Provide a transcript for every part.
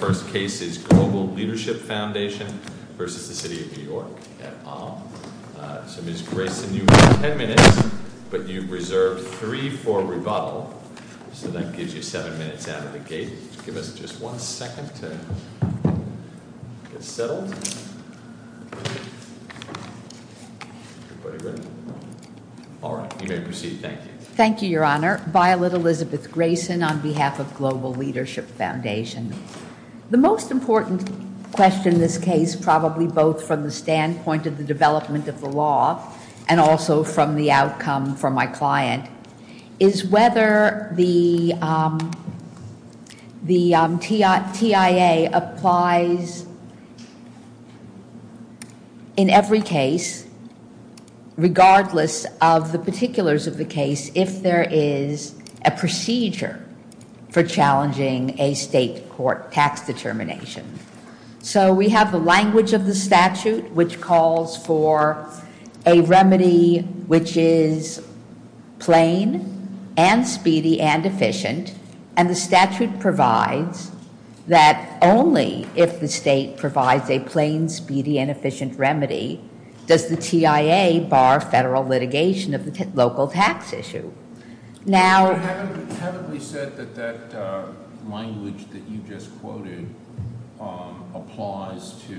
The first case is Global Leadership Foundation v. City of New York So Ms. Grayson, you have ten minutes, but you reserved three for rebuttal So that gives you seven minutes out of the gate Give us just one second to get settled Alright, you may proceed, thank you Thank you, Your Honor Violet Elizabeth Grayson on behalf of Global Leadership Foundation The most important question in this case, probably both from the standpoint of the development of the law and also from the outcome for my client is whether the TIA applies in every case regardless of the particulars of the case if there is a procedure for challenging a state court tax determination So we have the language of the statute which calls for a remedy which is plain and speedy and efficient and the statute provides that only if the state provides a plain, speedy and efficient remedy does the TIA bar federal litigation of the local tax issue You haven't said that that language that you just quoted applies to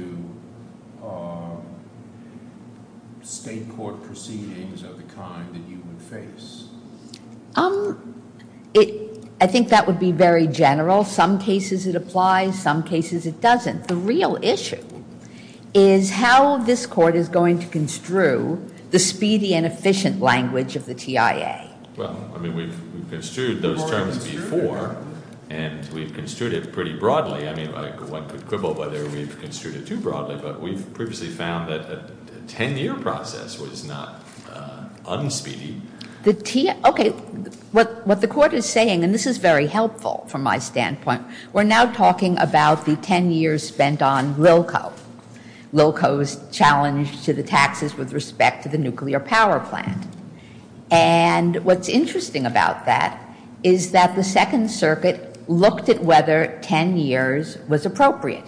state court proceedings of the kind that you would face I think that would be very general, some cases it applies, some cases it doesn't The real issue is how this court is going to construe the speedy and efficient language of the TIA Well, I mean we've construed those terms before and we've construed it pretty broadly I mean one could quibble whether we've construed it too broadly but we've previously found that a ten year process was not unspeedy Okay, what the court is saying, and this is very helpful from my standpoint We're now talking about the ten years spent on LILCO LILCO's challenge to the taxes with respect to the nuclear power plant and what's interesting about that is that the Second Circuit looked at whether ten years was appropriate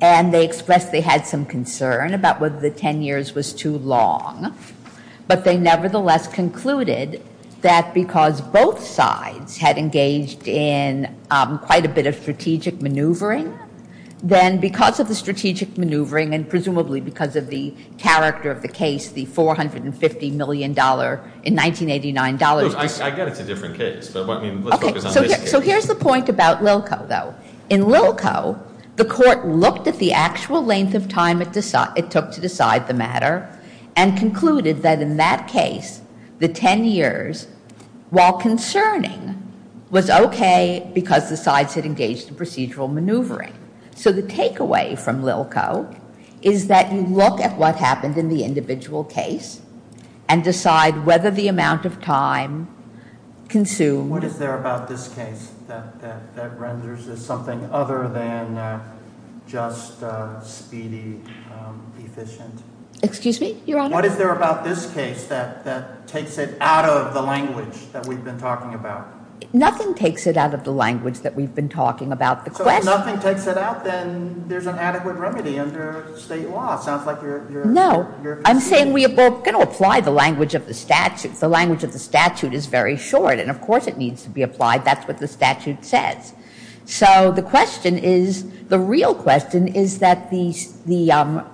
and they expressed they had some concern about whether the ten years was too long but they nevertheless concluded that because both sides had engaged in quite a bit of strategic maneuvering then because of the strategic maneuvering and presumably because of the character of the case the $450 million in 1989 dollars I get it's a different case, but let's focus on this case So here's the point about LILCO though In LILCO, the court looked at the actual length of time it took to decide the matter and concluded that in that case, the ten years, while concerning was okay because the sides had engaged in procedural maneuvering So the takeaway from LILCO is that you look at what happened in the individual case and decide whether the amount of time consumed What is there about this case that renders this something other than just speedy, efficient? Excuse me, your honor? What is there about this case that takes it out of the language that we've been talking about? Nothing takes it out of the language that we've been talking about So if nothing takes it out then there's an adequate remedy under state law No, I'm saying we're going to apply the language of the statute The language of the statute is very short and of course it needs to be applied That's what the statute says So the question is, the real question is that the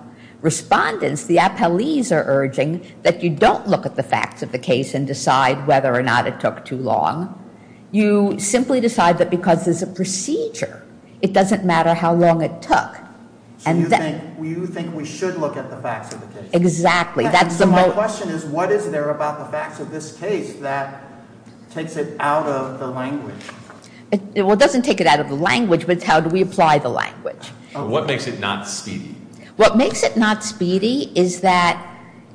respondents, the appellees are urging that you don't look at the facts of the case and decide whether or not it took too long You simply decide that because it's a procedure, it doesn't matter how long it took So you think we should look at the facts of the case? Exactly So my question is, what is there about the facts of this case that takes it out of the language? Well it doesn't take it out of the language, but it's how do we apply the language What makes it not speedy? What makes it not speedy is that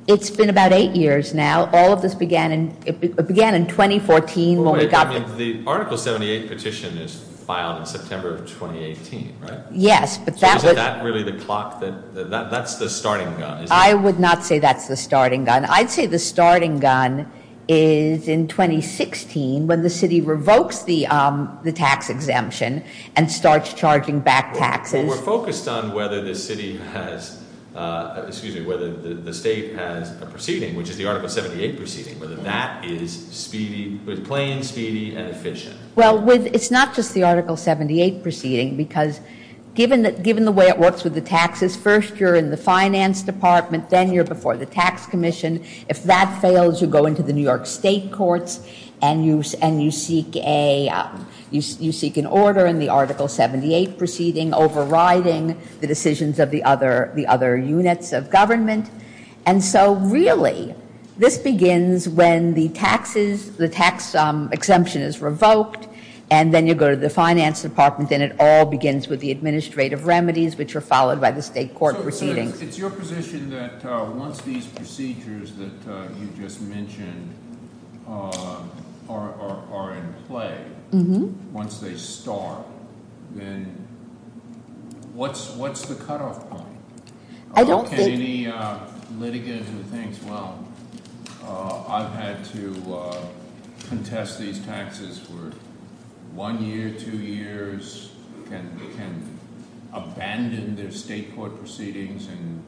it's been about eight years now All of this began in 2014 The article 78 petition is filed in September of 2018, right? Yes, but that was So is that really the clock, that's the starting gun I would not say that's the starting gun I'd say the starting gun is in 2016 when the city revokes the tax exemption and starts charging back taxes We're focused on whether the state has a proceeding, which is the article 78 proceeding Whether that is plain, speedy, and efficient Well it's not just the article 78 proceeding because given the way it works with the taxes First you're in the finance department, then you're before the tax commission If that fails, you go into the New York state courts and you seek an order in the article 78 proceeding overriding the decisions of the other units of government And so really, this begins when the tax exemption is revoked and then you go to the finance department Then it all begins with the administrative remedies, which are followed by the state court proceedings So it's your position that once these procedures that you just mentioned are in play Once they start, then what's the cutoff point? I don't think Any litigants who think, well, I've had to contest these taxes for one year, two years can abandon their state court proceedings and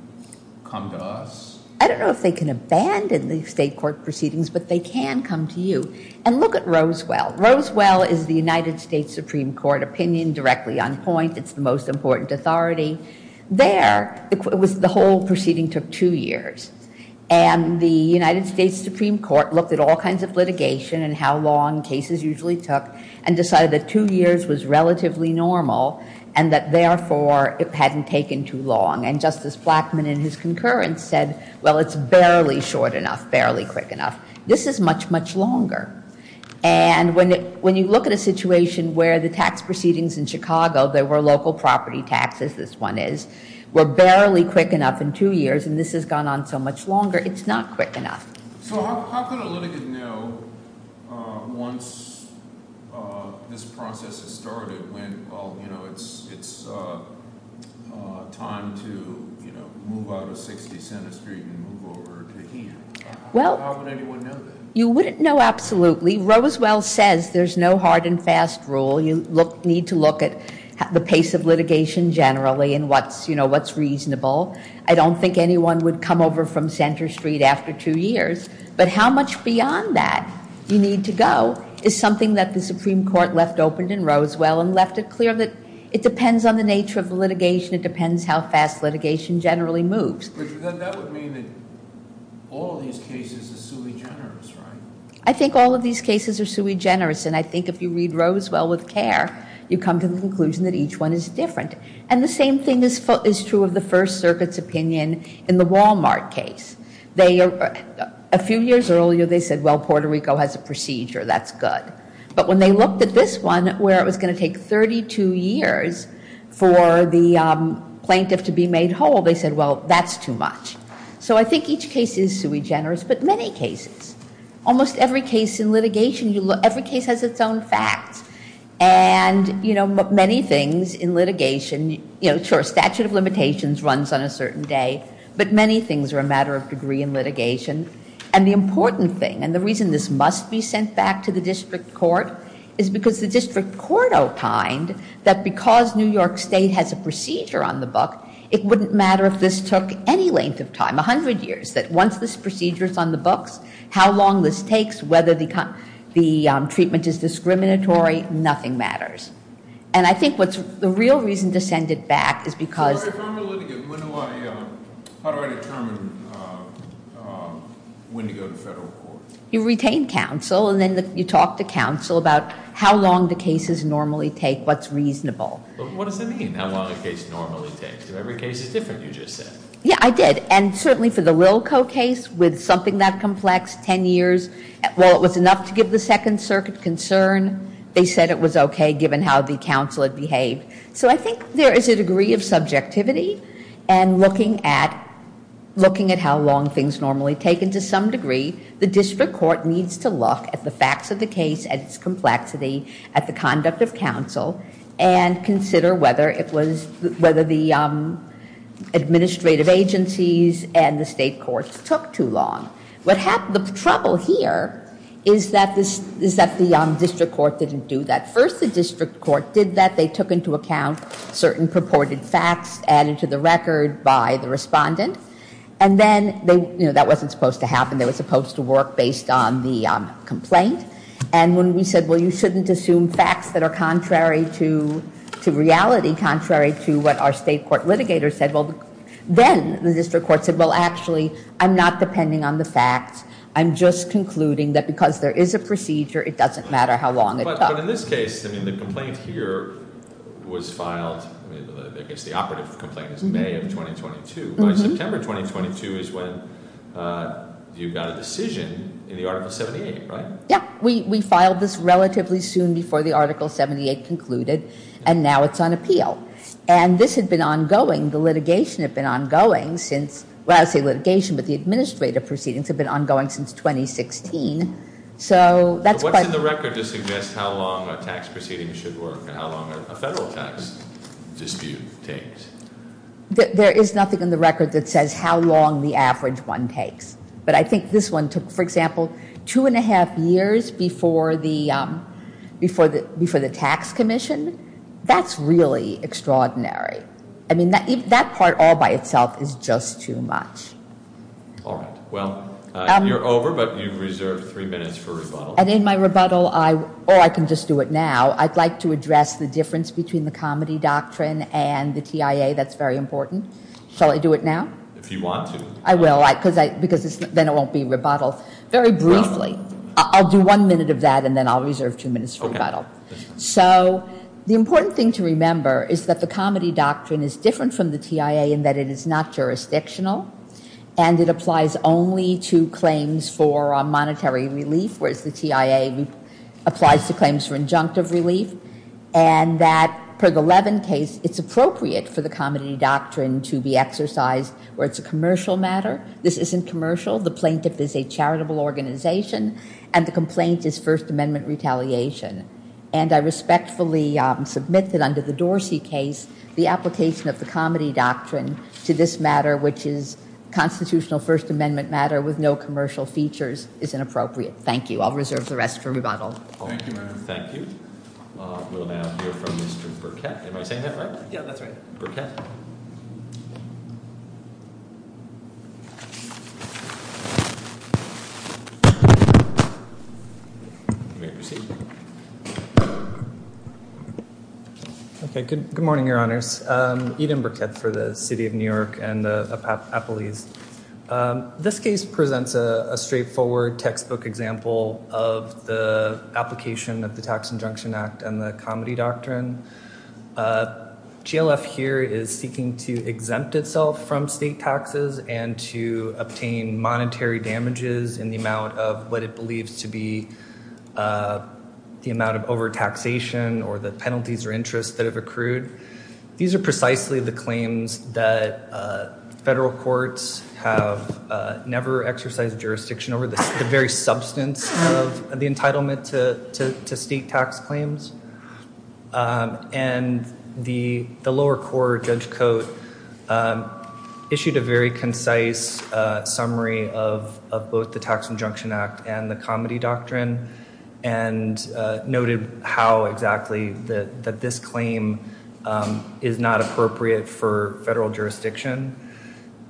come to us? I don't know if they can abandon the state court proceedings, but they can come to you And look at Roswell Roswell is the United States Supreme Court opinion directly on point It's the most important authority There, the whole proceeding took two years And the United States Supreme Court looked at all kinds of litigation and how long cases usually took and decided that two years was relatively normal and that, therefore, it hadn't taken too long And Justice Blackmun in his concurrence said, well, it's barely short enough, barely quick enough This is much, much longer And when you look at a situation where the tax proceedings in Chicago There were local property taxes, this one is Were barely quick enough in two years And this has gone on so much longer It's not quick enough So how could a litigant know once this process has started When, well, you know, it's time to move out of 60 Center Street and move over to here? How would anyone know that? You wouldn't know, absolutely Roswell says there's no hard and fast rule You need to look at the pace of litigation generally And what's, you know, what's reasonable I don't think anyone would come over from Center Street after two years But how much beyond that you need to go Is something that the Supreme Court left open in Roswell And left it clear that it depends on the nature of litigation It depends how fast litigation generally moves But then that would mean that all these cases are sui generis, right? I think all of these cases are sui generis And I think if you read Roswell with care You come to the conclusion that each one is different And the same thing is true of the First Circuit's opinion in the Walmart case A few years earlier they said, well, Puerto Rico has a procedure, that's good But when they looked at this one, where it was going to take 32 years For the plaintiff to be made whole They said, well, that's too much So I think each case is sui generis But many cases, almost every case in litigation Every case has its own facts And many things in litigation Sure, statute of limitations runs on a certain day But many things are a matter of degree in litigation And the important thing, and the reason this must be sent back to the district court Is because the district court opined That because New York State has a procedure on the book It wouldn't matter if this took any length of time, 100 years That once this procedure is on the books How long this takes, whether the treatment is discriminatory Nothing matters And I think the real reason to send it back is because How do I determine when to go to federal court? You retain counsel, and then you talk to counsel About how long the cases normally take, what's reasonable What does that mean, how long a case normally takes? Every case is different, you just said Yeah, I did And certainly for the Lilko case, with something that complex, 10 years Well, it was enough to give the Second Circuit concern They said it was okay, given how the counsel had behaved So I think there is a degree of subjectivity And looking at how long things normally take And to some degree, the district court needs to look At the facts of the case, at its complexity At the conduct of counsel And consider whether the administrative agencies And the state courts took too long The trouble here is that the district court didn't do that First, the district court did that They took into account certain purported facts Added to the record by the respondent And then, that wasn't supposed to happen It was supposed to work based on the complaint And when we said, well, you shouldn't assume facts That are contrary to reality Contrary to what our state court litigator said Then, the district court said, well, actually I'm not depending on the facts I'm just concluding that because there is a procedure It doesn't matter how long it took But in this case, the complaint here was filed I guess the operative complaint is May of 2022 By September 2022 is when you got a decision In the Article 78, right? Yeah, we filed this relatively soon Before the Article 78 concluded And now it's on appeal And this had been ongoing The litigation had been ongoing since Well, I say litigation, but the administrative proceedings Had been ongoing since 2016 So, that's quite What's in the record to suggest how long a tax proceeding should work? How long a federal tax dispute takes? How long the average one takes But I think this one took, for example Two and a half years before the tax commission That's really extraordinary I mean, that part all by itself is just too much All right, well, you're over But you've reserved three minutes for rebuttal And in my rebuttal, or I can just do it now I'd like to address the difference between The comedy doctrine and the TIA That's very important Shall I do it now? If you want to I will, because then it won't be rebuttal Very briefly I'll do one minute of that And then I'll reserve two minutes for rebuttal So, the important thing to remember Is that the comedy doctrine is different from the TIA In that it is not jurisdictional And it applies only to claims for monetary relief Whereas the TIA applies to claims for injunctive relief And that per the Levin case It's appropriate for the comedy doctrine to be exercised Where it's a commercial matter This isn't commercial The plaintiff is a charitable organization And the complaint is First Amendment retaliation And I respectfully submit that under the Dorsey case The application of the comedy doctrine To this matter, which is Constitutional First Amendment matter With no commercial features Is inappropriate Thank you I'll reserve the rest for rebuttal Thank you, Madam Thank you We'll now hear from Mr. Burkett Am I saying that right? Yeah, that's right Burkett You may proceed Okay, good morning, Your Honors Eden Burkett for the City of New York And the Appellees This case presents a straightforward textbook example Of the application of the Tax Injunction Act And the comedy doctrine GLF here is seeking to exempt itself from state taxes And to obtain monetary damages In the amount of what it believes to be The amount of overtaxation Or the penalties or interest that have accrued These are precisely the claims that Federal courts have never exercised jurisdiction Over the very substance of the entitlement to state tax claims And the lower court, Judge Coates Issued a very concise summary Of both the Tax Injunction Act And the comedy doctrine And noted how exactly that this claim Is not appropriate for federal jurisdiction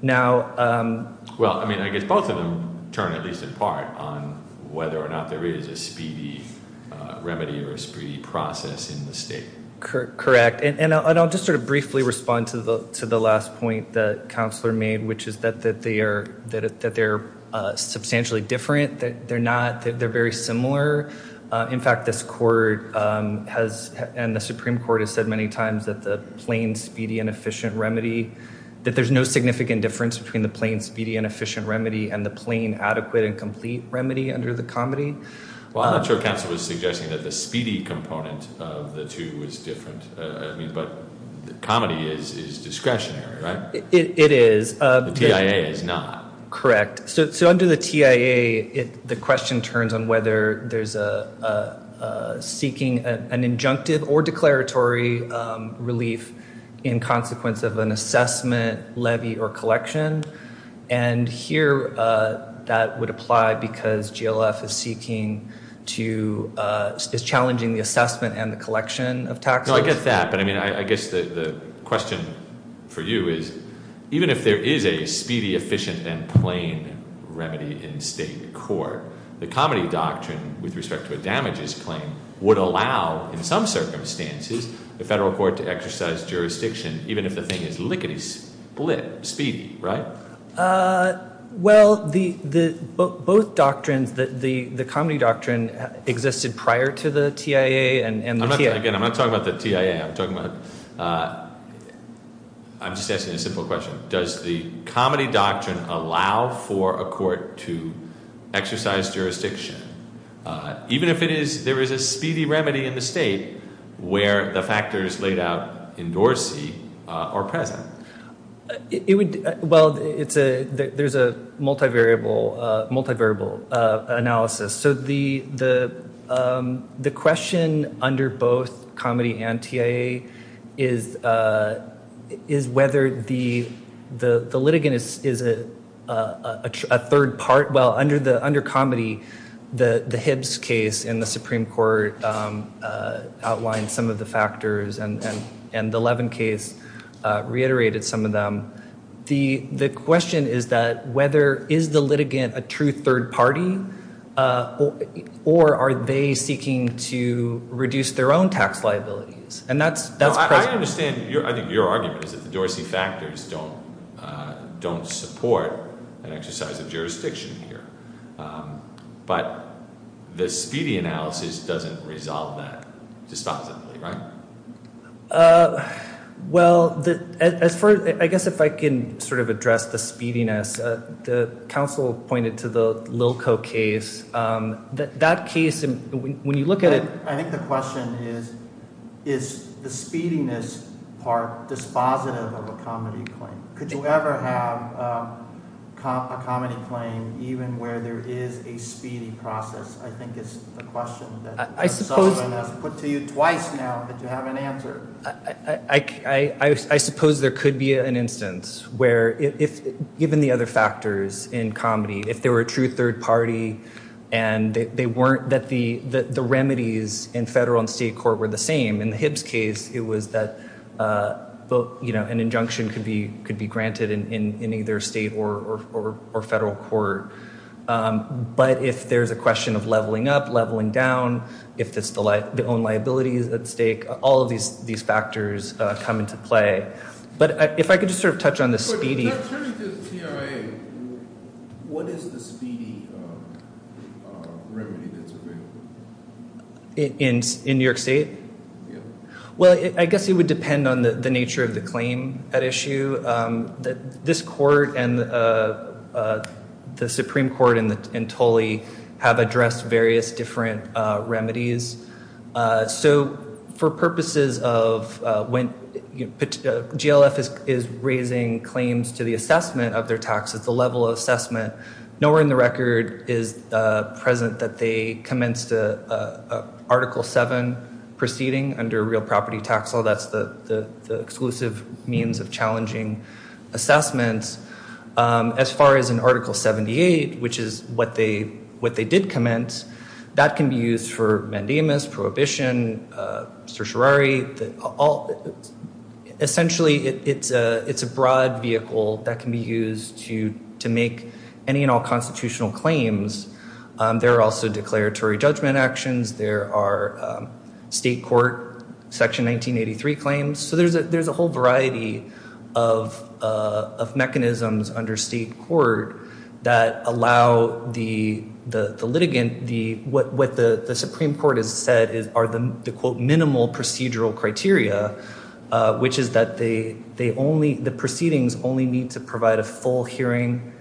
Now Well, I mean, I guess both of them turn at least in part On whether or not there is a speedy remedy Or a speedy process in the state Correct And I'll just sort of briefly respond to the last point That Counselor made Which is that they are substantially different They're not They're very similar In fact, this court has And the Supreme Court has said many times That the plain, speedy, and efficient remedy That there's no significant difference Between the plain, speedy, and efficient remedy And the plain, adequate, and complete remedy Under the comedy Well, I'm not sure Counselor was suggesting That the speedy component of the two is different I mean, but comedy is discretionary, right? It is The TIA is not Correct So under the TIA The question turns on whether there's a Seeking an injunctive or declaratory relief In consequence of an assessment, levy, or collection And here that would apply Because GLF is seeking to Is challenging the assessment and the collection of taxes No, I get that But I mean, I guess the question for you is Even if there is a speedy, efficient, and plain remedy In state court The comedy doctrine with respect to a damages claim Would allow, in some circumstances The federal court to exercise jurisdiction Even if the thing is lickety-split, speedy, right? Well, both doctrines The comedy doctrine existed prior to the TIA Again, I'm not talking about the TIA I'm talking about I'm just asking a simple question Does the comedy doctrine allow for a court to Exercise jurisdiction Even if there is a speedy remedy in the state Where the factors laid out in Dorsey are present Well, there's a multivariable analysis So the question under both comedy and TIA Is whether the litigant is a third part Well, under comedy The Hibbs case in the Supreme Court Outlined some of the factors And the Levin case reiterated some of them The question is that Whether is the litigant a true third party Or are they seeking to reduce their own tax liabilities And that's present I understand your argument Is that the Dorsey factors don't support An exercise of jurisdiction here But the speedy analysis doesn't resolve that disposably, right? Well, I guess if I can sort of address the speediness The counsel pointed to the Lilko case That case, when you look at it I think the question is Is the speediness part dispositive of a comedy claim? Could you ever have a comedy claim Even where there is a speedy process I think is the question Put to you twice now that you haven't answered I suppose there could be an instance Where, given the other factors in comedy If they were a true third party And that the remedies in federal and state court were the same In the Hibbs case, it was that An injunction could be granted in either state or federal court But if there's a question of leveling up, leveling down If it's the own liabilities at stake All of these factors come into play But if I could just sort of touch on the speedy Without turning to the TRA What is the speedy remedy that's available? In New York State? Yeah Well, I guess it would depend on the nature of the claim at issue This court and the Supreme Court and TOLI Have addressed various different remedies So for purposes of when GLF is raising claims To the assessment of their taxes, the level of assessment Nowhere in the record is present that they commenced Article 7 proceeding under real property tax law That's the exclusive means of challenging assessments As far as in Article 78, which is what they did commence That can be used for mandamus, prohibition, certiorari Essentially, it's a broad vehicle that can be used To make any and all constitutional claims There are also declaratory judgment actions There are state court Section 1983 claims So there's a whole variety of mechanisms under state court That allow the litigant What the Supreme Court has said are the Minimal procedural criteria Which is that the proceedings only need to provide A full hearing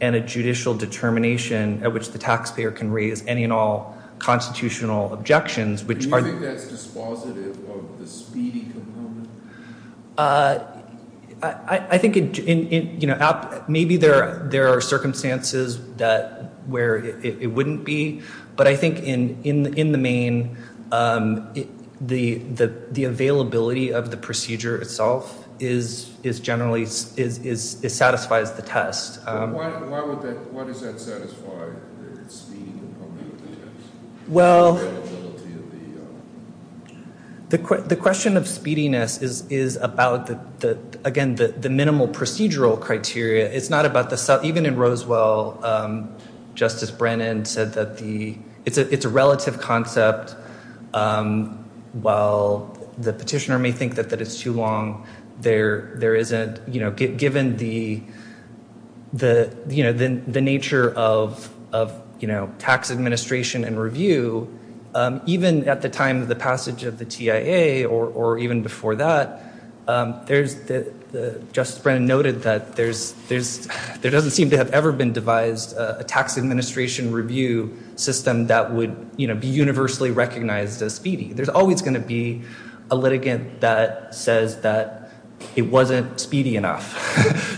and a judicial determination At which the taxpayer can raise any and all Constitutional objections Do you think that's dispositive of the speedy component? I think maybe there are circumstances Where it wouldn't be, but I think in the main The availability of the procedure itself Is generally, it satisfies the test Why does that satisfy the speedy component of the test? Well, the question of speediness Is about, again, the minimal procedural criteria It's not about the, even in Rosewell Justice Brennan said that it's a relative concept While the petitioner may think that it's too long There isn't, you know, given the Nature of tax administration and review Even at the time of the passage of the TIA Or even before that, Justice Brennan noted that There doesn't seem to have ever been devised A tax administration review system that would Be universally recognized as speedy There's always going to be a litigant that says That it wasn't speedy enough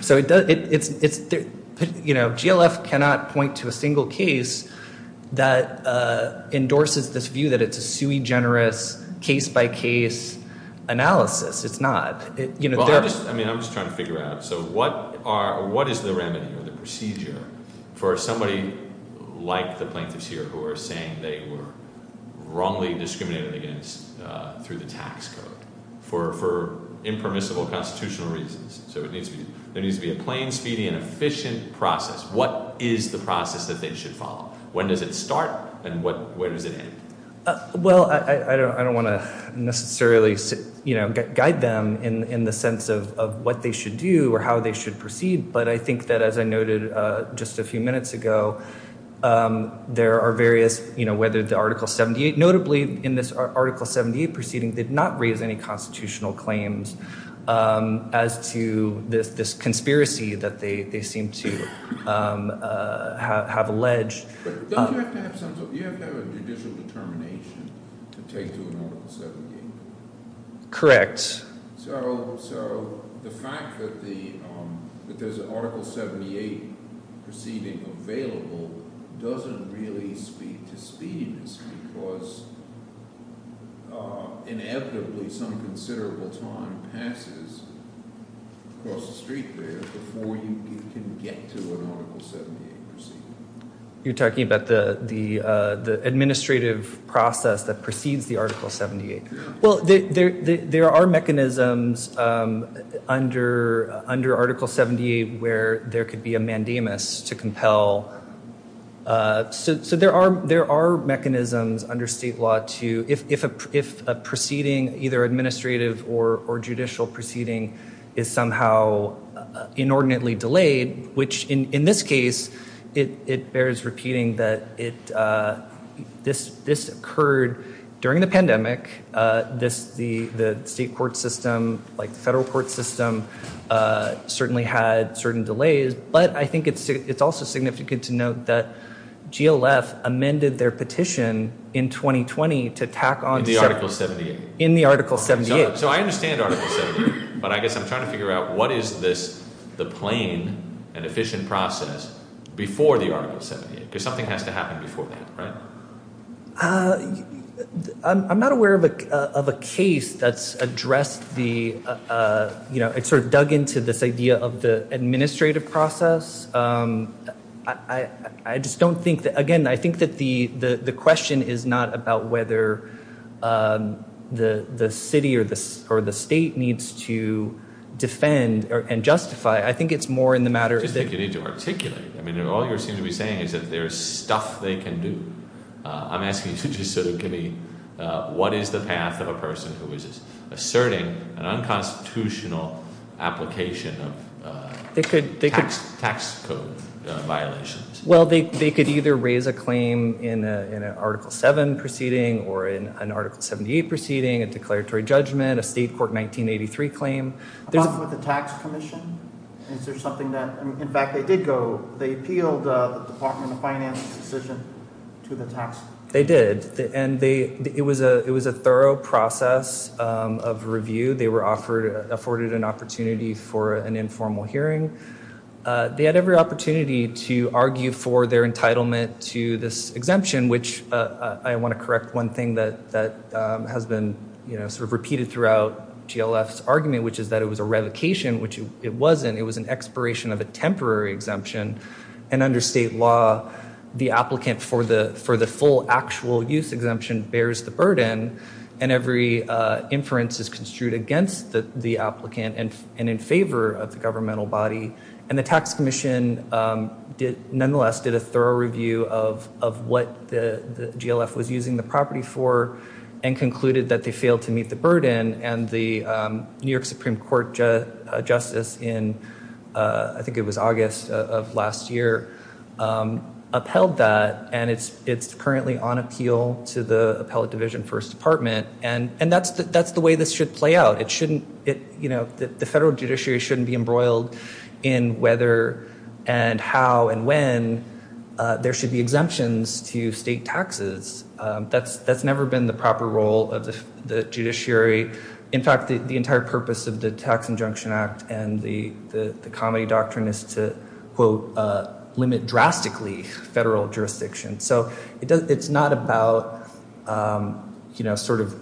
GLF cannot point to a single case That endorses this view that it's a sui generis Case by case analysis, it's not I'm just trying to figure out, so what is the remedy Or the procedure for somebody like the plaintiffs here Who are saying they were wrongly discriminated against Through the tax code for impermissible constitutional reasons So there needs to be a plain, speedy and efficient process What is the process that they should follow? When does it start and where does it end? Well, I don't want to necessarily guide them In the sense of what they should do or how they should proceed But I think that as I noted just a few minutes ago There are various, whether the article 78 Notably in this article 78 proceeding Did not raise any constitutional claims As to this conspiracy that they seem to have alleged But don't you have to have a judicial determination To take to an article 78? Correct So the fact that there's an article 78 proceeding available Doesn't really speak to speediness Because inevitably some considerable time passes Across the street there before you can get to an article 78 proceeding You're talking about the administrative process that precedes the article 78 Well, there are mechanisms under article 78 Where there could be a mandamus to compel So there are mechanisms under state law If a proceeding, either administrative or judicial proceeding Is somehow inordinately delayed Which in this case, it bears repeating That this occurred during the pandemic The state court system, like the federal court system Certainly had certain delays But I think it's also significant to note that GLF amended their petition in 2020 In the article 78 So I understand article 78 But I guess I'm trying to figure out What is the plain and efficient process Before the article 78 Because something has to happen before that, right? I'm not aware of a case that's addressed It's sort of dug into this idea of the administrative process I just don't think that Again, I think that the question is not about whether The city or the state needs to defend and justify I think it's more in the matter of I just think you need to articulate All you seem to be saying is that there's stuff they can do I'm asking you to just sort of give me What is the path of a person who is asserting An unconstitutional application of tax code violations? Well, they could either raise a claim In an article 7 proceeding Or in an article 78 proceeding A declaratory judgment A state court 1983 claim Along with the tax commission Is there something that In fact, they did go They appealed the department of finance decision to the tax They did It was a thorough process of review They were offered Afforded an opportunity for an informal hearing They had every opportunity to argue for their entitlement To this exemption, which I want to correct One thing that has been sort of repeated throughout GLF's argument, which is that it was a revocation Which it wasn't It was an expiration of a temporary exemption And under state law The applicant for the full actual use exemption Bears the burden And every inference is construed against the applicant And in favor of the governmental body And the tax commission Did nonetheless did a thorough review of What the GLF was using the property for And concluded that they failed to meet the burden And the New York Supreme Court Justice in I think it was August of last year Upheld that and it's currently on appeal To the appellate division first department And that's the way this should play out It shouldn't You know, the federal judiciary shouldn't be embroiled In whether and how and when There should be exemptions to state taxes That's never been the proper role of the judiciary In fact, the entire purpose of the tax injunction act And the comedy doctrine is to Limit drastically federal jurisdiction So it's not about You know, sort of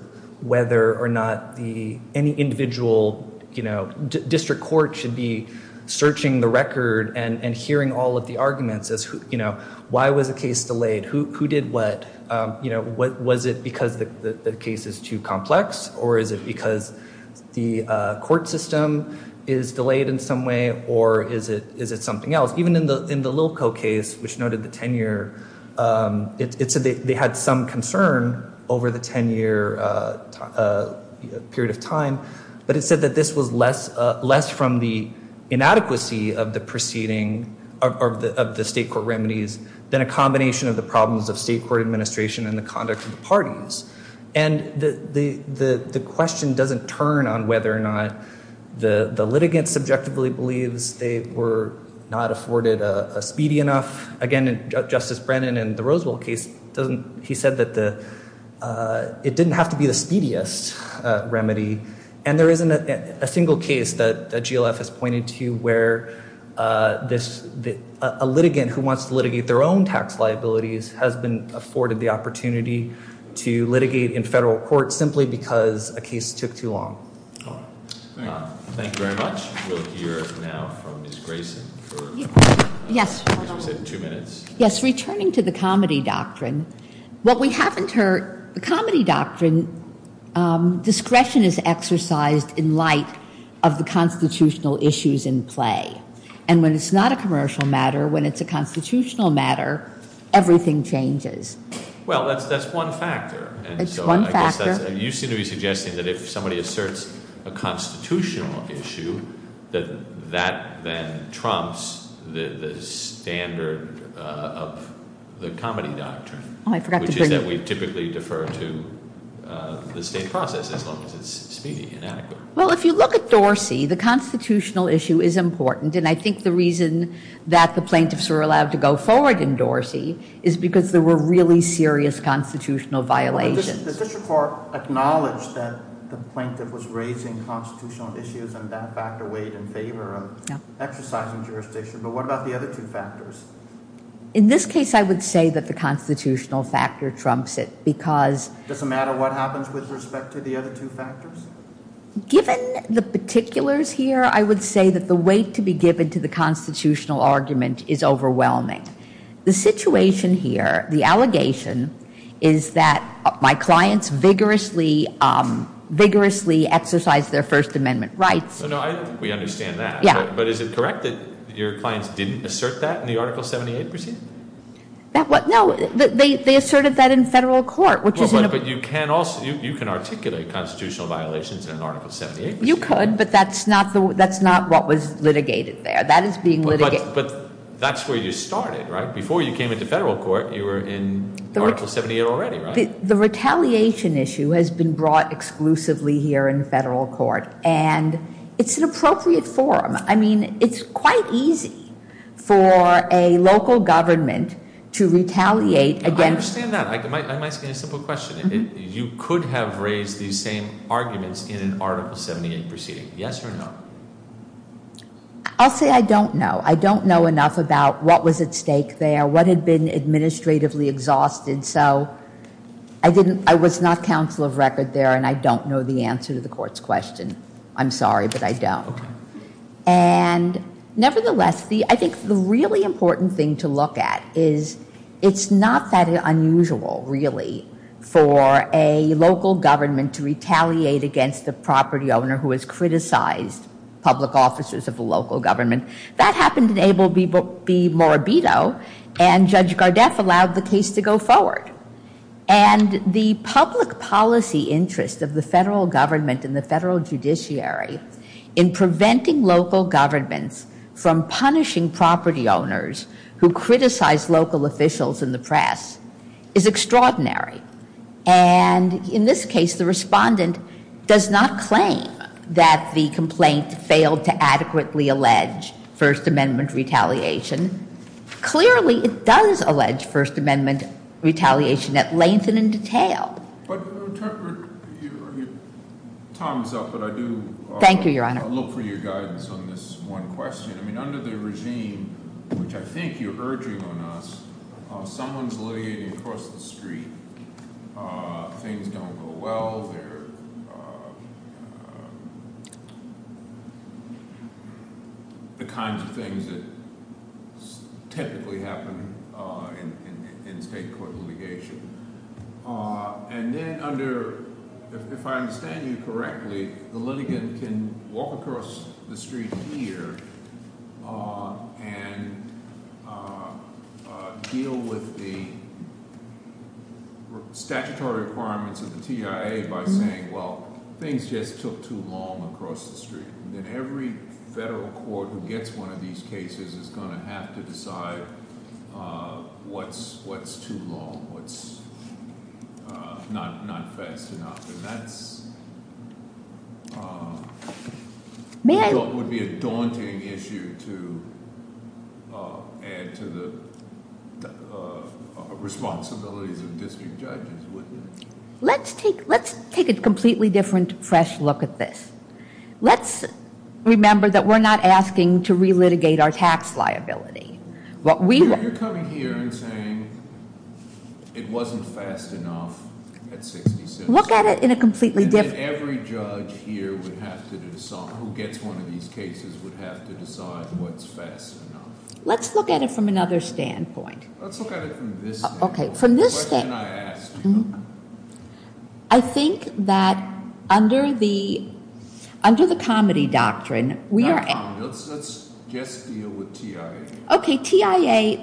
whether or not the Any individual, you know, district court should be Searching the record and hearing all of the arguments As you know, why was the case delayed? Who did what? Was it because the case is too complex? Or is it because the court system Is delayed in some way? Or is it something else? Even in the Lilko case, which noted the 10-year It said they had some concern Over the 10-year period of time But it said that this was less from the Inadequacy of the proceeding Of the state court remedies Than a combination of the problems of state court administration And the conduct of the parties And the question doesn't turn on whether or not The litigant subjectively believes They were not afforded a speedy enough Again, Justice Brennan in the Roseville case He said that it didn't have to be the speediest Remedy, and there isn't a single case That GLF has pointed to where A litigant who wants to litigate their own tax liabilities Has been afforded the opportunity to litigate In federal court simply because a case took too long. Thank you very much. We'll hear now from Ms. Grayson Yes, returning to the comedy doctrine What we haven't heard, the comedy doctrine Discretion is exercised in light Of the constitutional issues in play And when it's not a commercial matter When it's a constitutional matter, everything changes. Well, that's one factor. You seem to be suggesting that if somebody asserts A constitutional issue That that then trumps the standard Of the comedy doctrine Which is that we typically defer to The state process as long as it's speedy and adequate. Well, if you look at Dorsey, the constitutional issue is important And I think the reason that the plaintiffs were allowed to go forward In Dorsey is because there were really serious Constitutional violations. The district court acknowledged that the plaintiff was raising Constitutional issues and that factor weighed in favor of Exercising jurisdiction, but what about the other two factors? In this case, I would say that the constitutional factor Trumps it because It doesn't matter what happens with respect to the other two factors? Given the particulars here, I would say that The weight to be given to the constitutional argument Is overwhelming. The situation here The allegation is that my clients Vigorously exercised Their first amendment rights. We understand that, but is it correct that your clients didn't assert that In the article 78 proceeding? No, they asserted that in federal court. But you can articulate constitutional violations In article 78. You could, but that's not What was litigated there. But that's where you started, right? Before you came into federal court You were in article 78 already, right? The retaliation issue has been brought exclusively here In federal court and it's an appropriate form I mean, it's quite easy For a local government to retaliate I understand that. I'm asking a simple question. You could have raised these same arguments in an article 78 proceeding, yes or no? I'll say I don't know. I don't know enough about What was at stake there, what had been administratively exhausted So I was not Counsel of record there and I don't know the answer to the court's question I'm sorry, but I don't. And nevertheless, I think the really important Thing to look at is it's not that Unusual, really, for a local Government to retaliate against the property owner Who has criticized public officers of the local Government. That happened in Abel v. Morabito And Judge Gardeff allowed the case to go forward And the public policy Interest of the federal government and the federal judiciary In preventing local governments From punishing property owners Who criticize local officials in the press Is extraordinary. And in this case The respondent does not claim That the complaint failed to adequately allege First Amendment retaliation Clearly it does allege First Amendment retaliation At length and in detail. Time is up, but I do Look for your guidance on this one question Under the regime, which I think you're urging on us Someone is litigating across the street Things don't go well There The kinds of things That typically happen In state court litigation And then under If I understand you correctly The litigant can walk across the street here And Deal with the Statutory requirements of the TIA By saying, well, things just took too long Across the street. Then every federal court Who gets one of these cases is going to have to decide What's too long What's not fast enough And that's Would be a daunting issue To add to the Responsibilities of district judges Wouldn't it? Let's take a completely different, fresh look at this Let's remember that we're not asking To relitigate our tax liability You're coming here and saying It wasn't fast enough Look at it in a completely different Who gets one of these cases Would have to decide what's fast enough Let's look at it from another standpoint From this standpoint I think that under the Comedy doctrine Let's just deal with TIA Okay, TIA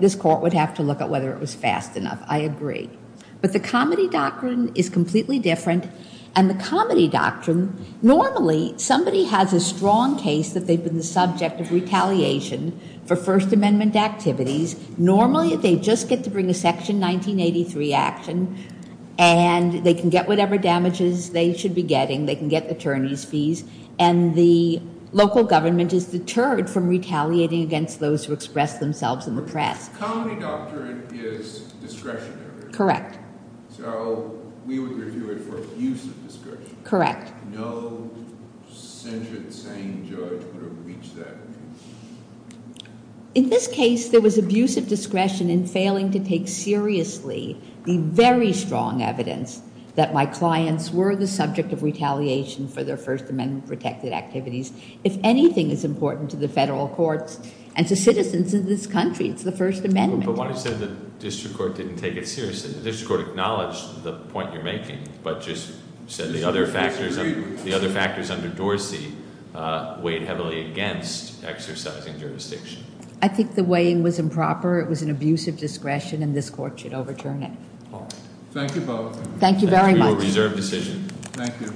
This court would have to look at whether it was fast enough I agree. But the comedy doctrine is completely different And the comedy doctrine Normally somebody has a strong case That they've been the subject of retaliation For first amendment activities Normally they just get to bring a section 1983 action And they can get whatever damages they should be getting They can get attorney's fees And the local government is deterred from retaliating Against those who express themselves in the press Comedy doctrine is discretionary So we would review it for abuse of discretion No sentient saying judge Would have reached that In this case there was abuse of discretion In failing to take seriously the very strong evidence That my clients were the subject of retaliation For their first amendment protected activities If anything is important to the federal courts And to citizens of this country It's the first amendment But why do you say the district court didn't take it seriously The district court acknowledged the point you're making But just said the other factors under Dorsey Weighed heavily against exercising jurisdiction I think the weighing was improper It was an abuse of discretion and this court should overturn it Thank you both